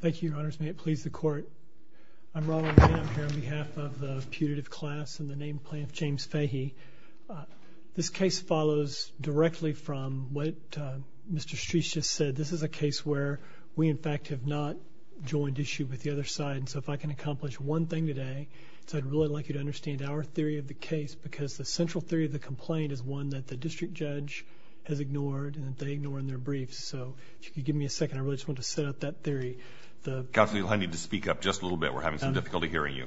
Thank you, Your Honors. May it please the Court. I'm Ronald Hamm here on behalf of the putative class and the named plaintiff, James Fahey. This case follows directly from what Mr. Streets just said. This is a case where we, in fact, have not joined issue with the other side. So if I can accomplish one thing today, I'd really like you to understand our theory of the case, because the central theory of the complaint is one that the district judge has ignored and that they ignore in their briefs. So if you could give me a second, I really just want to set up that theory. Counsel, you'll need to speak up just a little bit. We're having some difficulty hearing you.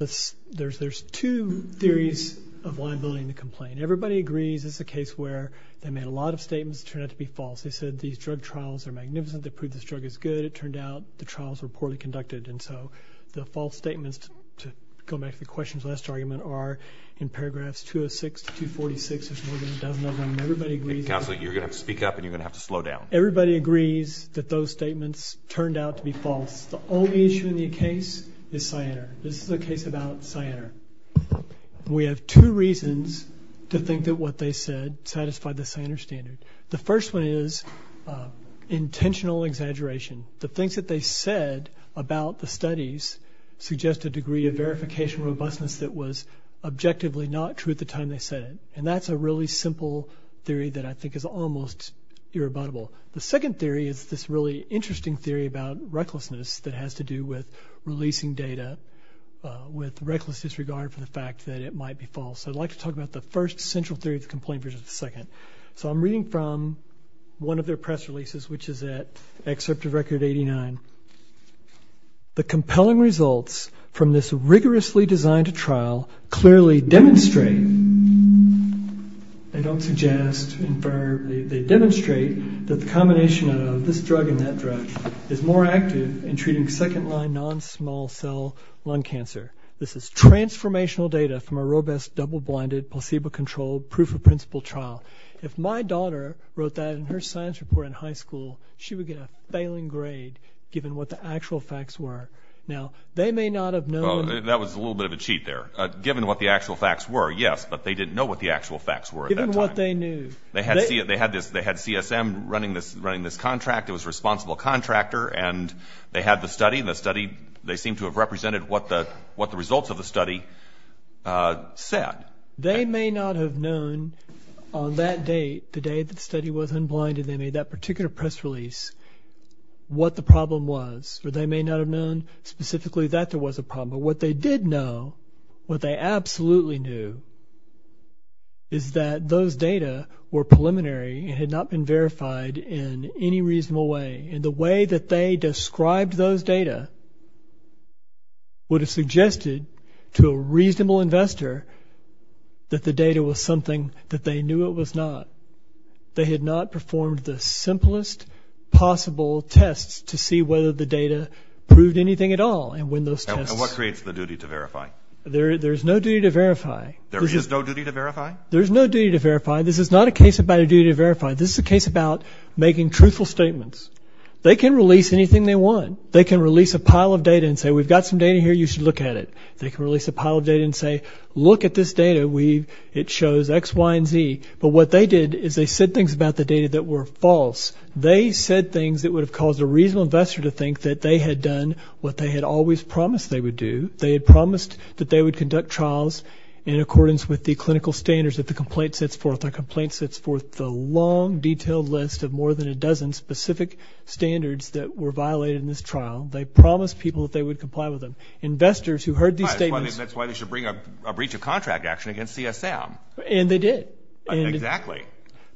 There's two theories of liability in the complaint. Everybody agrees this is a case where they made a lot of statements that turned out to be false. They said these drug trials are magnificent. They proved this drug is good. It turned out the trials were poorly conducted. And so the false statements, to go back to the questions last argument, are in paragraphs 206 to 246. There's more than a dozen of them. Counsel, you're going to have to speak up and you're going to have to slow down. Everybody agrees that those statements turned out to be false. The only issue in the case is Cyanar. This is a case about Cyanar. We have two reasons to think that what they said satisfied the Cyanar standard. The first one is intentional exaggeration. The things that they said about the studies suggest a degree of verification robustness that was objectively not true at the time they said it. And that's a really simple theory that I think is almost irrebuttable. The second theory is this really interesting theory about recklessness that has to do with releasing data with reckless disregard for the fact that it might be false. I'd like to talk about the first central theory of the complaint versus the second. So I'm reading from one of their press releases, which is at Excerpt of Record 89. The compelling results from this rigorously designed trial clearly demonstrate, they don't suggest, they demonstrate that the combination of this drug and that drug is more active in treating second-line non-small cell lung cancer. This is transformational data from a robust double-blinded placebo-controlled proof-of-principle trial. If my daughter wrote that in her science report in high school, she would get a failing grade given what the actual facts were. Now, they may not have known. Well, that was a little bit of a cheat there. Given what the actual facts were, yes, but they didn't know what the actual facts were at that time. Given what they knew. They had CSM running this contract. It was a responsible contractor, and they had the study, and the study, they seemed to have represented what the results of the study said. They may not have known on that date, the day that the study was unblinded, they made that particular press release, what the problem was. Or they may not have known specifically that there was a problem. But what they did know, what they absolutely knew, is that those data were preliminary and had not been verified in any reasonable way. And the way that they described those data would have suggested to a reasonable investor that the data was something that they knew it was not. They had not performed the simplest possible tests to see whether the data proved anything at all. And when those tests... And what creates the duty to verify? There is no duty to verify. There is no duty to verify? There is no duty to verify. This is not a case about a duty to verify. This is a case about making truthful statements. They can release anything they want. They can release a pile of data and say, we've got some data here. You should look at it. They can release a pile of data and say, look at this data. It shows X, Y, and Z. But what they did is they said things about the data that were false. They said things that would have caused a reasonable investor to think that they had done what they had always promised they would do. They had promised that they would conduct trials in accordance with the clinical standards that the complaint sets forth. The long, detailed list of more than a dozen specific standards that were violated in this trial. They promised people that they would comply with them. Investors who heard these statements... That's why they should bring a breach of contract action against CSM. And they did. Exactly.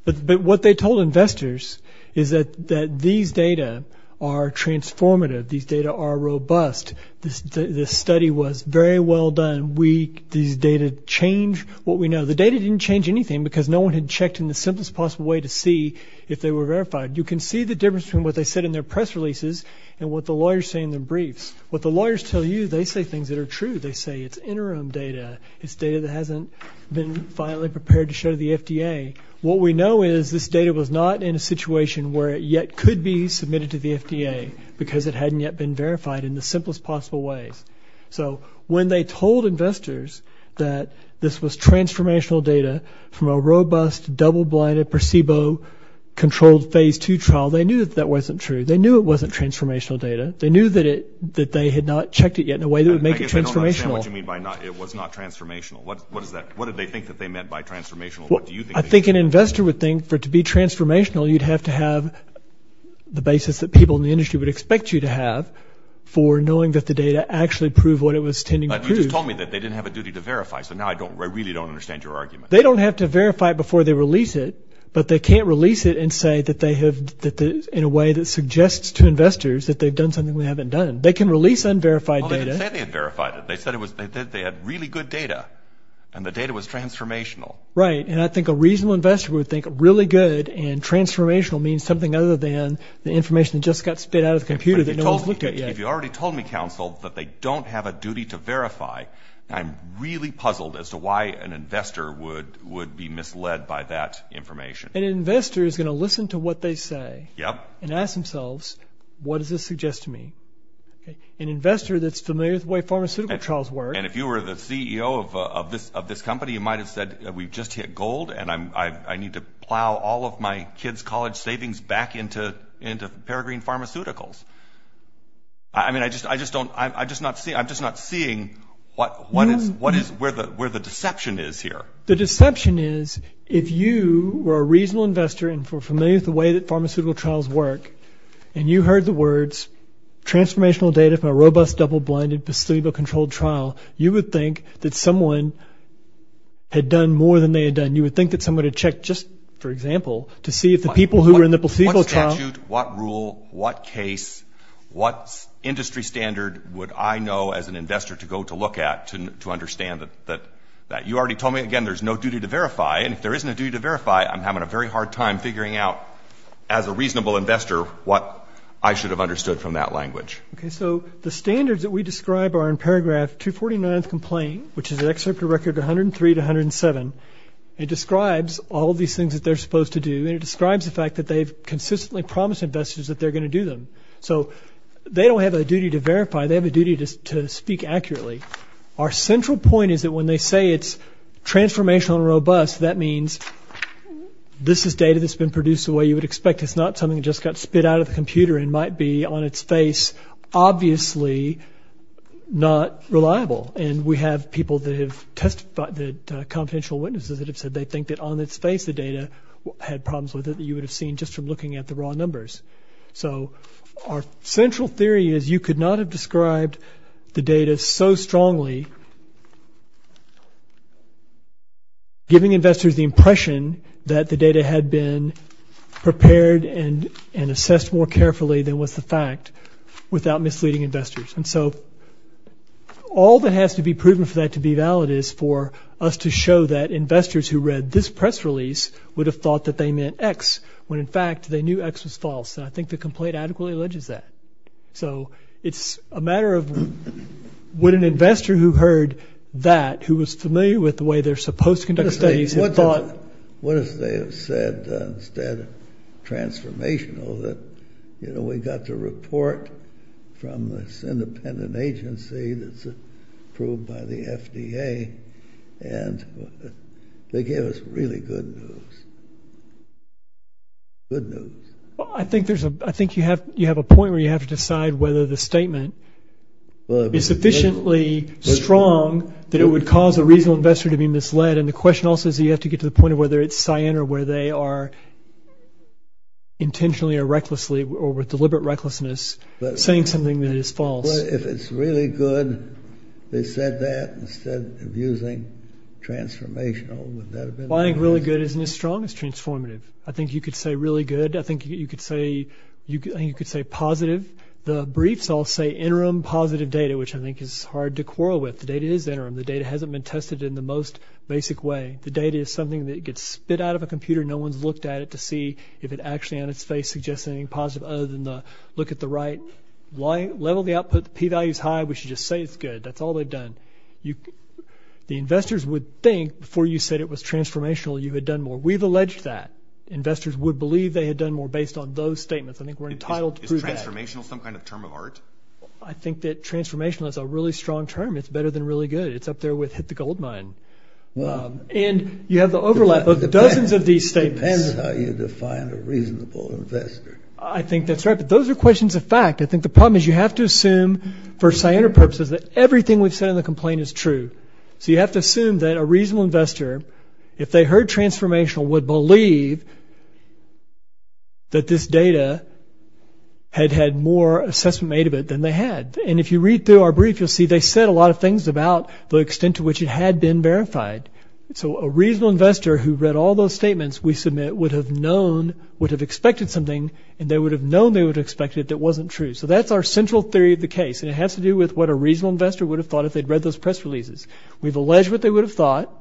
But what they told investors is that these data are transformative. These data are robust. This study was very well done. These data change what we know. The data didn't change anything because no one had checked in the simplest possible way to see if they were verified. You can see the difference between what they said in their press releases and what the lawyers say in their briefs. What the lawyers tell you, they say things that are true. They say it's interim data. It's data that hasn't been finally prepared to show to the FDA. What we know is this data was not in a situation where it yet could be submitted to the FDA, because it hadn't yet been verified in the simplest possible ways. So when they told investors that this was transformational data from a robust, double-blinded, placebo-controlled Phase 2 trial, they knew that that wasn't true. They knew it wasn't transformational data. They knew that they had not checked it yet in a way that would make it transformational. I guess I don't understand what you mean by it was not transformational. What did they think that they meant by transformational? I think an investor would think for it to be transformational, you'd have to have the basis that people in the industry would expect you to have for knowing that the data actually proved what it was intending to prove. But you just told me that they didn't have a duty to verify, so now I really don't understand your argument. They don't have to verify it before they release it, but they can't release it and say in a way that suggests to investors that they've done something we haven't done. They can release unverified data. Well, they didn't say they had verified it. They said they had really good data, and the data was transformational. Right, and I think a reasonable investor would think really good and transformational means something other than the information that just got spit out of the computer that no one's looked at yet. If you already told me, counsel, that they don't have a duty to verify, I'm really puzzled as to why an investor would be misled by that information. An investor is going to listen to what they say and ask themselves, what does this suggest to me? An investor that's familiar with the way pharmaceutical trials work. And if you were the CEO of this company, you might have said, we've just hit gold and I need to plow all of my kids' college savings back into Peregrine Pharmaceuticals. I mean, I'm just not seeing where the deception is here. The deception is, if you were a reasonable investor and were familiar with the way that pharmaceutical trials work, and you heard the words transformational data from a robust, double-blinded, placebo-controlled trial, you would think that someone had done more than they had done. You would think that someone had checked just, for example, to see if the people who were in the placebo trial – What statute, what rule, what case, what industry standard would I know as an investor to go to look at to understand that you already told me, again, there's no duty to verify. And if there isn't a duty to verify, I'm having a very hard time figuring out, as a reasonable investor, what I should have understood from that language. Okay, so the standards that we describe are in paragraph 249 of the complaint, which is an excerpt of record 103 to 107. It describes all these things that they're supposed to do, and it describes the fact that they've consistently promised investors that they're going to do them. So they don't have a duty to verify. They have a duty to speak accurately. Our central point is that when they say it's transformational and robust, that means this is data that's been produced the way you would expect. It's not something that just got spit out of the computer and might be, on its face, obviously not reliable. And we have people that have testified, the confidential witnesses that have said they think that, on its face, the data had problems with it that you would have seen just from looking at the raw numbers. So our central theory is you could not have described the data so strongly, giving investors the impression that the data had been prepared and assessed more carefully than was the fact without misleading investors. And so all that has to be proven for that to be valid is for us to show that investors who read this press release would have thought that they meant X when, in fact, they knew X was false. And I think the complaint adequately alleges that. So it's a matter of would an investor who heard that, who was familiar with the way they're supposed to conduct studies, have thought what if they had said instead transformational, that we got the report from this independent agency that's approved by the FDA and they gave us really good news, good news. I think you have a point where you have to decide whether the statement is sufficiently strong that it would cause a reasonable investor to be misled. And the question also is you have to get to the point of whether it's cyan or where they are intentionally or recklessly or with deliberate recklessness saying something that is false. But if it's really good they said that instead of using transformational, would that have been the case? Well, I think really good isn't as strong as transformative. I think you could say really good. I think you could say positive. The briefs all say interim positive data, which I think is hard to quarrel with. The data is interim. The data hasn't been tested in the most basic way. The data is something that gets spit out of a computer. No one's looked at it to see if it actually on its face suggests anything positive other than the look at the right level of the output. The p-value is high. We should just say it's good. That's all they've done. The investors would think before you said it was transformational you had done more. We've alleged that. Investors would believe they had done more based on those statements. I think we're entitled to prove that. Is transformational some kind of term of art? I think that transformational is a really strong term. It's better than really good. It's up there with hit the gold mine. And you have the overlap of dozens of these statements. It depends how you define a reasonable investor. I think that's right. But those are questions of fact. I think the problem is you have to assume for scientific purposes that everything we've said in the complaint is true. So you have to assume that a reasonable investor, if they heard transformational, would believe that this data had had more assessment made of it than they had. And if you read through our brief, you'll see they said a lot of things about the extent to which it had been verified. So a reasonable investor who read all those statements we submit would have known, would have expected something, and they would have known they would have expected it that wasn't true. So that's our central theory of the case, and it has to do with what a reasonable investor would have thought if they'd read those press releases. We've alleged what they would have thought,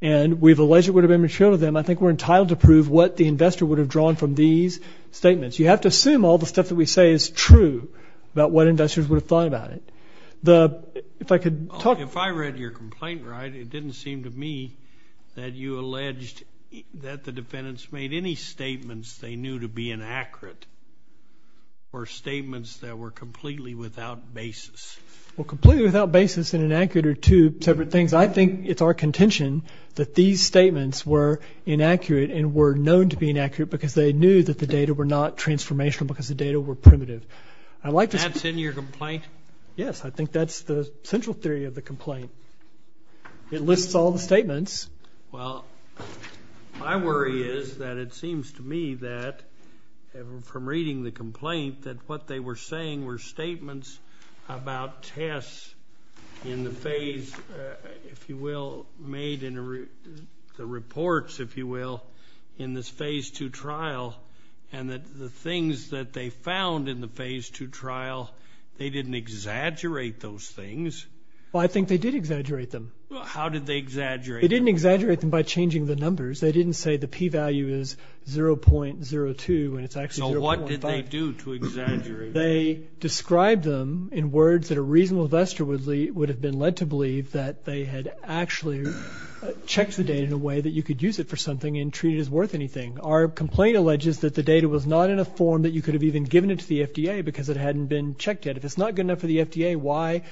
and we've alleged it would have been material to them. I think we're entitled to prove what the investor would have drawn from these statements. You have to assume all the stuff that we say is true about what investors would have thought about it. If I could talk. If I read your complaint right, it didn't seem to me that you alleged that the defendants made any statements they knew to be inaccurate or statements that were completely without basis. Well, completely without basis and inaccurate are two separate things. I think it's our contention that these statements were inaccurate and were known to be inaccurate because they knew that the data were not transformational because the data were primitive. That's in your complaint? Yes, I think that's the central theory of the complaint. It lists all the statements. Well, my worry is that it seems to me that from reading the complaint that what they were saying were statements about tests in the phase, if you will, made in the reports, if you will, in this phase 2 trial, and that the things that they found in the phase 2 trial, they didn't exaggerate those things. Well, I think they did exaggerate them. How did they exaggerate them? They didn't exaggerate them by changing the numbers. They didn't say the p-value is 0.02 and it's actually 0.5. So what did they do to exaggerate them? I believe that they had actually checked the data in a way that you could use it for something and treat it as worth anything. Our complaint alleges that the data was not in a form that you could have even given it to the FDA because it hadn't been checked yet. If it's not good enough for the FDA, why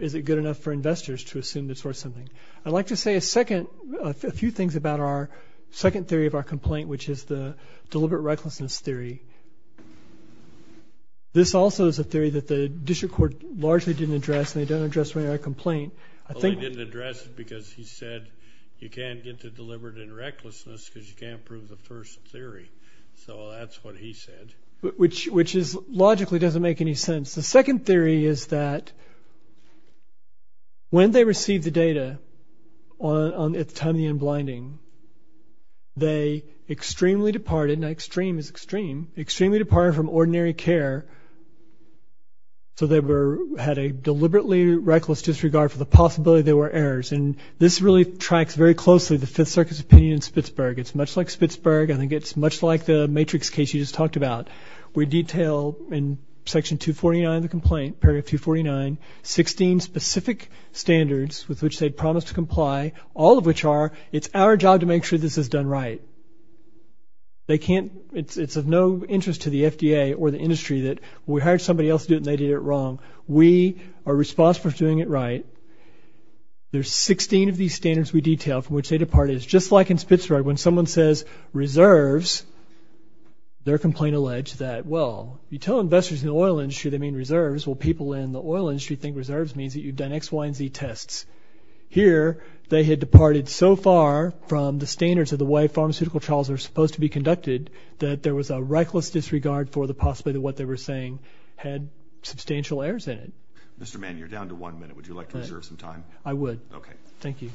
is it good enough for investors to assume it's worth something? I'd like to say a few things about our second theory of our complaint, which is the deliberate recklessness theory. This also is a theory that the district court largely didn't address, and they don't address it in our complaint. Well, they didn't address it because he said you can't get to deliberate and recklessness because you can't prove the first theory. So that's what he said. Which logically doesn't make any sense. The second theory is that when they received the data at the time of the in-blinding, they extremely departed, and extreme is extreme, extremely departed from ordinary care so they had a deliberately reckless disregard for the possibility there were errors. And this really tracks very closely the Fifth Circuit's opinion in Spitsberg. It's much like Spitsberg. I think it's much like the matrix case you just talked about. We detail in Section 249 of the complaint, paragraph 249, 16 specific standards with which they promised to comply, all of which are it's our job to make sure this is done right. It's of no interest to the FDA or the industry that we hired somebody else to do it and they did it wrong. We are responsible for doing it right. There's 16 of these standards we detail from which they departed. It's just like in Spitsberg. When someone says reserves, their complaint alleged that, well, you tell investors in the oil industry they mean reserves, well, people in the oil industry think reserves means that you've done X, Y, and Z tests. Here they had departed so far from the standards of the way pharmaceutical trials are supposed to be conducted that there was a reckless disregard for the possibility of what they were saying had substantial errors in it. Mr. Mann, you're down to one minute. Would you like to reserve some time? I would. Okay. Thank you.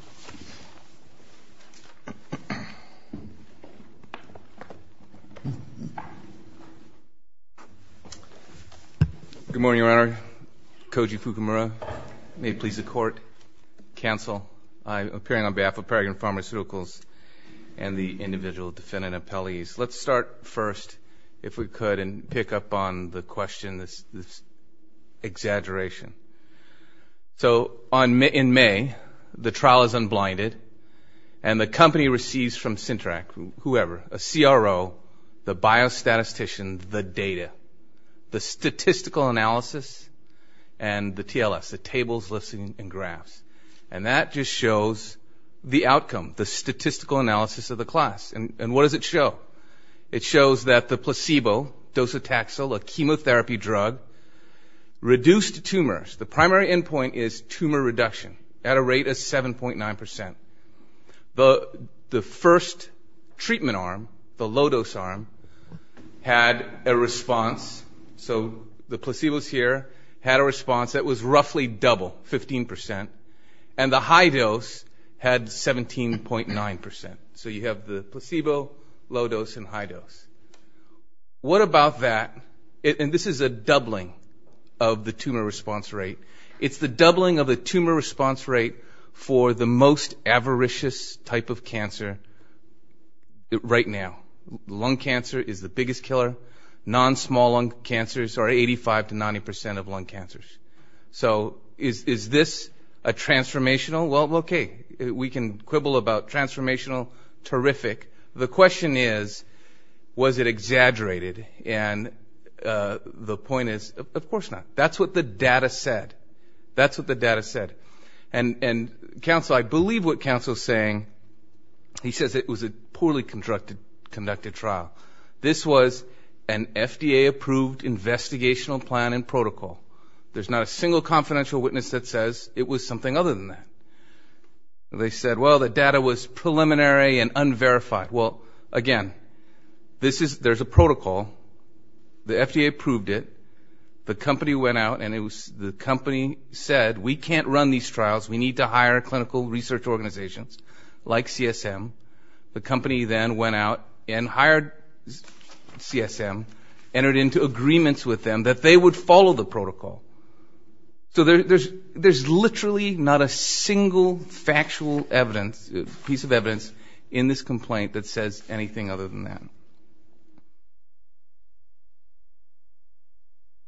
Good morning, Your Honor. Koji Fukumura. May it please the Court, cancel. I'm appearing on behalf of Peregrine Pharmaceuticals and the individual defendant appellees. Let's start first, if we could, and pick up on the question, this exaggeration. So in May, the trial is unblinded and the company receives from Sintrac, whoever, a CRO, the biostatistician, the data, the statistical analysis, and the TLS, the tables, lists, and graphs. And that just shows the outcome, the statistical analysis of the class. And what does it show? It shows that the placebo, docetaxel, a chemotherapy drug, reduced tumors. The primary endpoint is tumor reduction at a rate of 7.9%. The first treatment arm, the low-dose arm, had a response. So the placebos here had a response that was roughly double, 15%. And the high-dose had 17.9%. So you have the placebo, low-dose, and high-dose. What about that? And this is a doubling of the tumor response rate. It's the doubling of the tumor response rate for the most avaricious type of cancer right now. Lung cancer is the biggest killer. Non-small lung cancers are 85% to 90% of lung cancers. So is this a transformational? Well, okay, we can quibble about transformational. Terrific. The question is, was it exaggerated? And the point is, of course not. That's what the data said. That's what the data said. And counsel, I believe what counsel is saying, he says it was a poorly conducted trial. This was an FDA-approved investigational plan and protocol. There's not a single confidential witness that says it was something other than that. They said, well, the data was preliminary and unverified. Well, again, there's a protocol. The FDA approved it. The company went out and the company said, we can't run these trials. We need to hire clinical research organizations like CSM. The company then went out and hired CSM, entered into agreements with them that they would follow the protocol. So there's literally not a single factual evidence, piece of evidence, in this complaint that says anything other than that.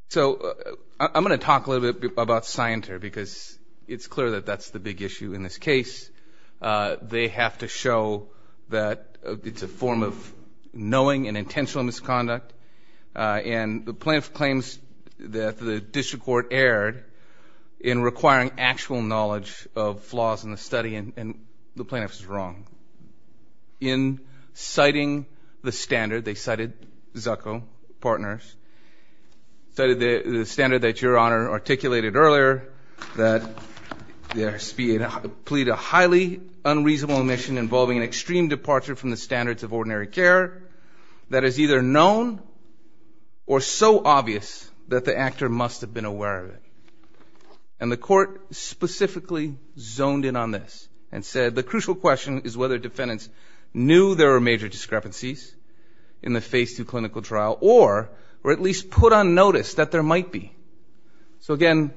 So I'm going to talk a little bit about scienter, because it's clear that that's the big issue in this case. They have to show that it's a form of knowing and intentional misconduct. And the plaintiff claims that the district court erred in requiring actual knowledge of flaws in the study, and the plaintiff is wrong. In citing the standard, they cited Zucco Partners, cited the standard that Your Honor articulated earlier, that there plead a highly unreasonable omission involving an extreme departure from the standards of ordinary care that is either known or so obvious that the actor must have been aware of it. And the court specifically zoned in on this and said, the crucial question is whether defendants knew there were major discrepancies in the Phase II clinical trial or at least put on notice that there might be. So again,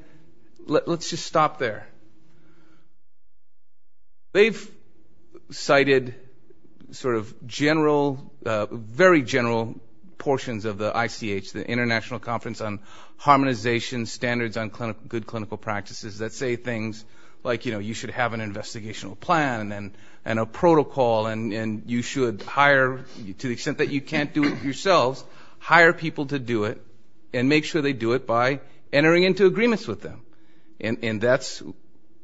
let's just stop there. They've cited sort of general, very general portions of the ICH, the International Conference on Harmonization Standards on Good Clinical Practices, that say things like, you know, you should have an investigational plan and a protocol and you should hire, to the extent that you can't do it yourselves, hire people to do it and make sure they do it by entering into agreements with them. And that's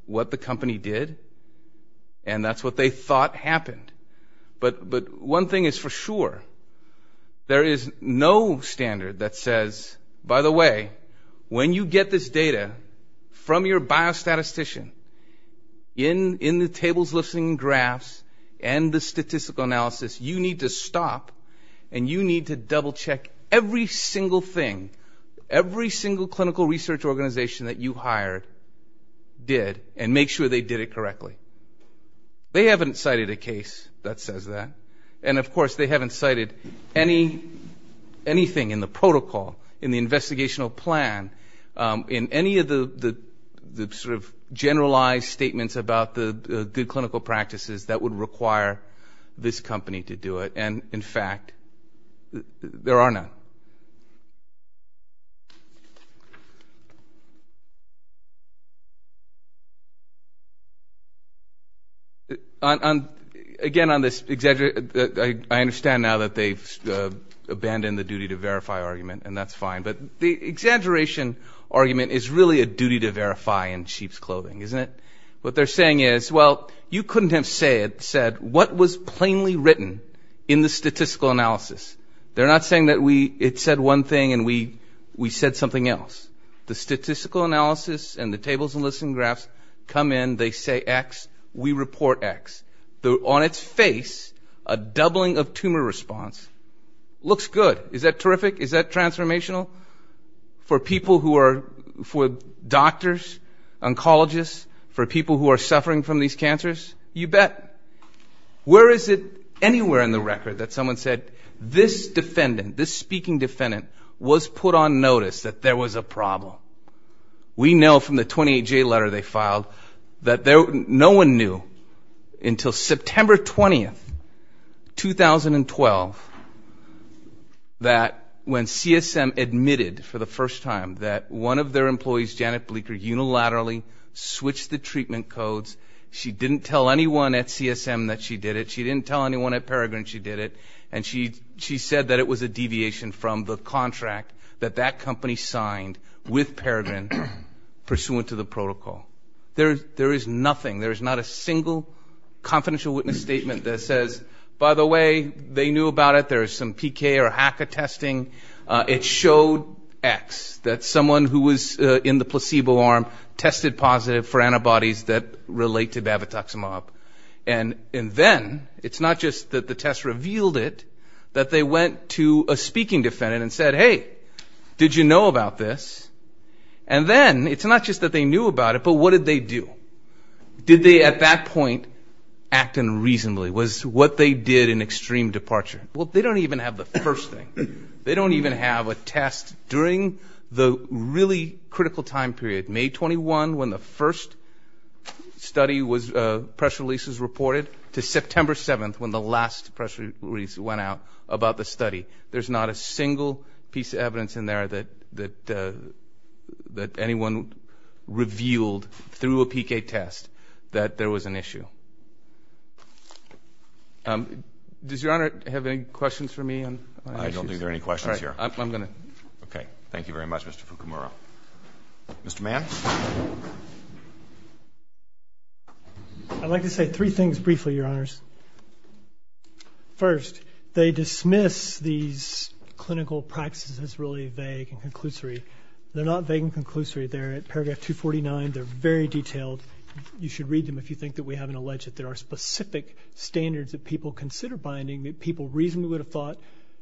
what the company did and that's what they thought happened. But one thing is for sure, there is no standard that says, by the way, when you get this data from your biostatistician, in the tables, lists, and graphs and the statistical analysis, you need to stop and you need to double-check every single thing, every single clinical research organization that you hired did and make sure they did it correctly. They haven't cited a case that says that. And, of course, they haven't cited anything in the protocol, in the investigational plan, in any of the sort of generalized statements about the good clinical practices that would require this company to do it. And, in fact, there are none. Again, on this exaggeration, I understand now that they've abandoned the duty to verify argument, and that's fine, but the exaggeration argument is really a duty to verify in sheep's clothing, isn't it? What they're saying is, well, you couldn't have said what was plainly written in the statistical analysis. They're not saying that it said one thing and we said something else. The statistical analysis and the tables and lists and graphs come in, they say X, we report X. On its face, a doubling of tumor response looks good. Is that terrific? Is that transformational? For people who are doctors, oncologists, for people who are suffering from these cancers, you bet. Where is it anywhere in the record that someone said this defendant, this speaking defendant, was put on notice that there was a problem? We know from the 28-J letter they filed that no one knew until September 20, 2012, that when CSM admitted for the first time that one of their employees, Janet Bleeker, unilaterally switched the treatment codes, she didn't tell anyone at CSM that she did it. She didn't tell anyone at Peregrin she did it, and she said that it was a deviation from the contract that that company signed with Peregrin pursuant to the protocol. There is nothing, there is not a single confidential witness statement that says, by the way, they knew about it, there is some PK or HACA testing. It showed X, that someone who was in the placebo arm tested positive for antibodies that relate to bavitoximab. And then, it's not just that the test revealed it, that they went to a speaking defendant and said, hey, did you know about this? And then, it's not just that they knew about it, but what did they do? Did they, at that point, act unreasonably? Was what they did an extreme departure? Well, they don't even have the first thing. They don't even have a test during the really critical time period, May 21, when the first study was pressure releases reported, to September 7, when the last pressure release went out about the study. There's not a single piece of evidence in there that anyone revealed through a PK test that there was an issue. Does Your Honor have any questions for me? I don't think there are any questions here. All right. I'm going to. Okay. Thank you very much, Mr. Fukumura. Mr. Mann. I'd like to say three things briefly, Your Honors. First, they dismiss these clinical practices as really vague and conclusory. They're not vague and conclusory. They're at paragraph 249. They're very detailed. You should read them if you think that we haven't alleged that there are specific standards that people consider binding that people reasonably would have thought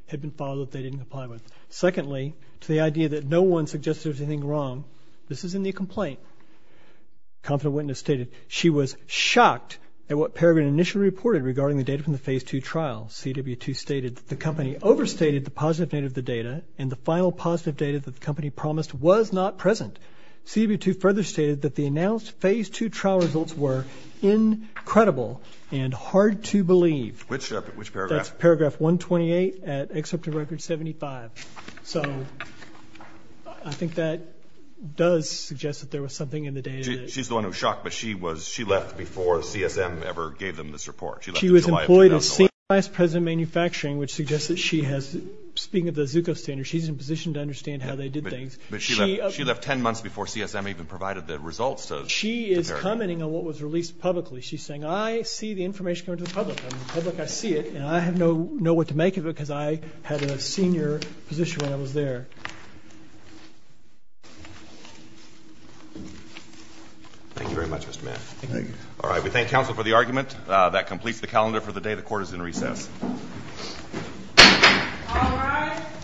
had been filed that they didn't comply with. Secondly, to the idea that no one suggested there was anything wrong, this is in the complaint. Confident witness stated she was shocked at what Peregrine initially reported regarding the data from the Phase II trial. CW2 stated that the company overstated the positive data of the data, and the final positive data that the company promised was not present. CW2 further stated that the announced Phase II trial results were incredible and hard to believe. Which paragraph? That's paragraph 128 at excerpt of Record 75. So I think that does suggest that there was something in the data. She's the one who was shocked, but she left before CSM ever gave them this report. She left in July of 2011. She was employed as Senior Vice President of Manufacturing, which suggests that she has, speaking of the Zucco standards, she's in a position to understand how they did things. But she left 10 months before CSM even provided the results to Peregrine. She is commenting on what was released publicly. She's saying, I see the information coming to the public, and the public, I see it, and I have no know what to make of it because I had a senior position when I was there. Thank you very much, Mr. Mann. Thank you. All right. We thank counsel for the argument. That completes the calendar for the day. The court is in recess.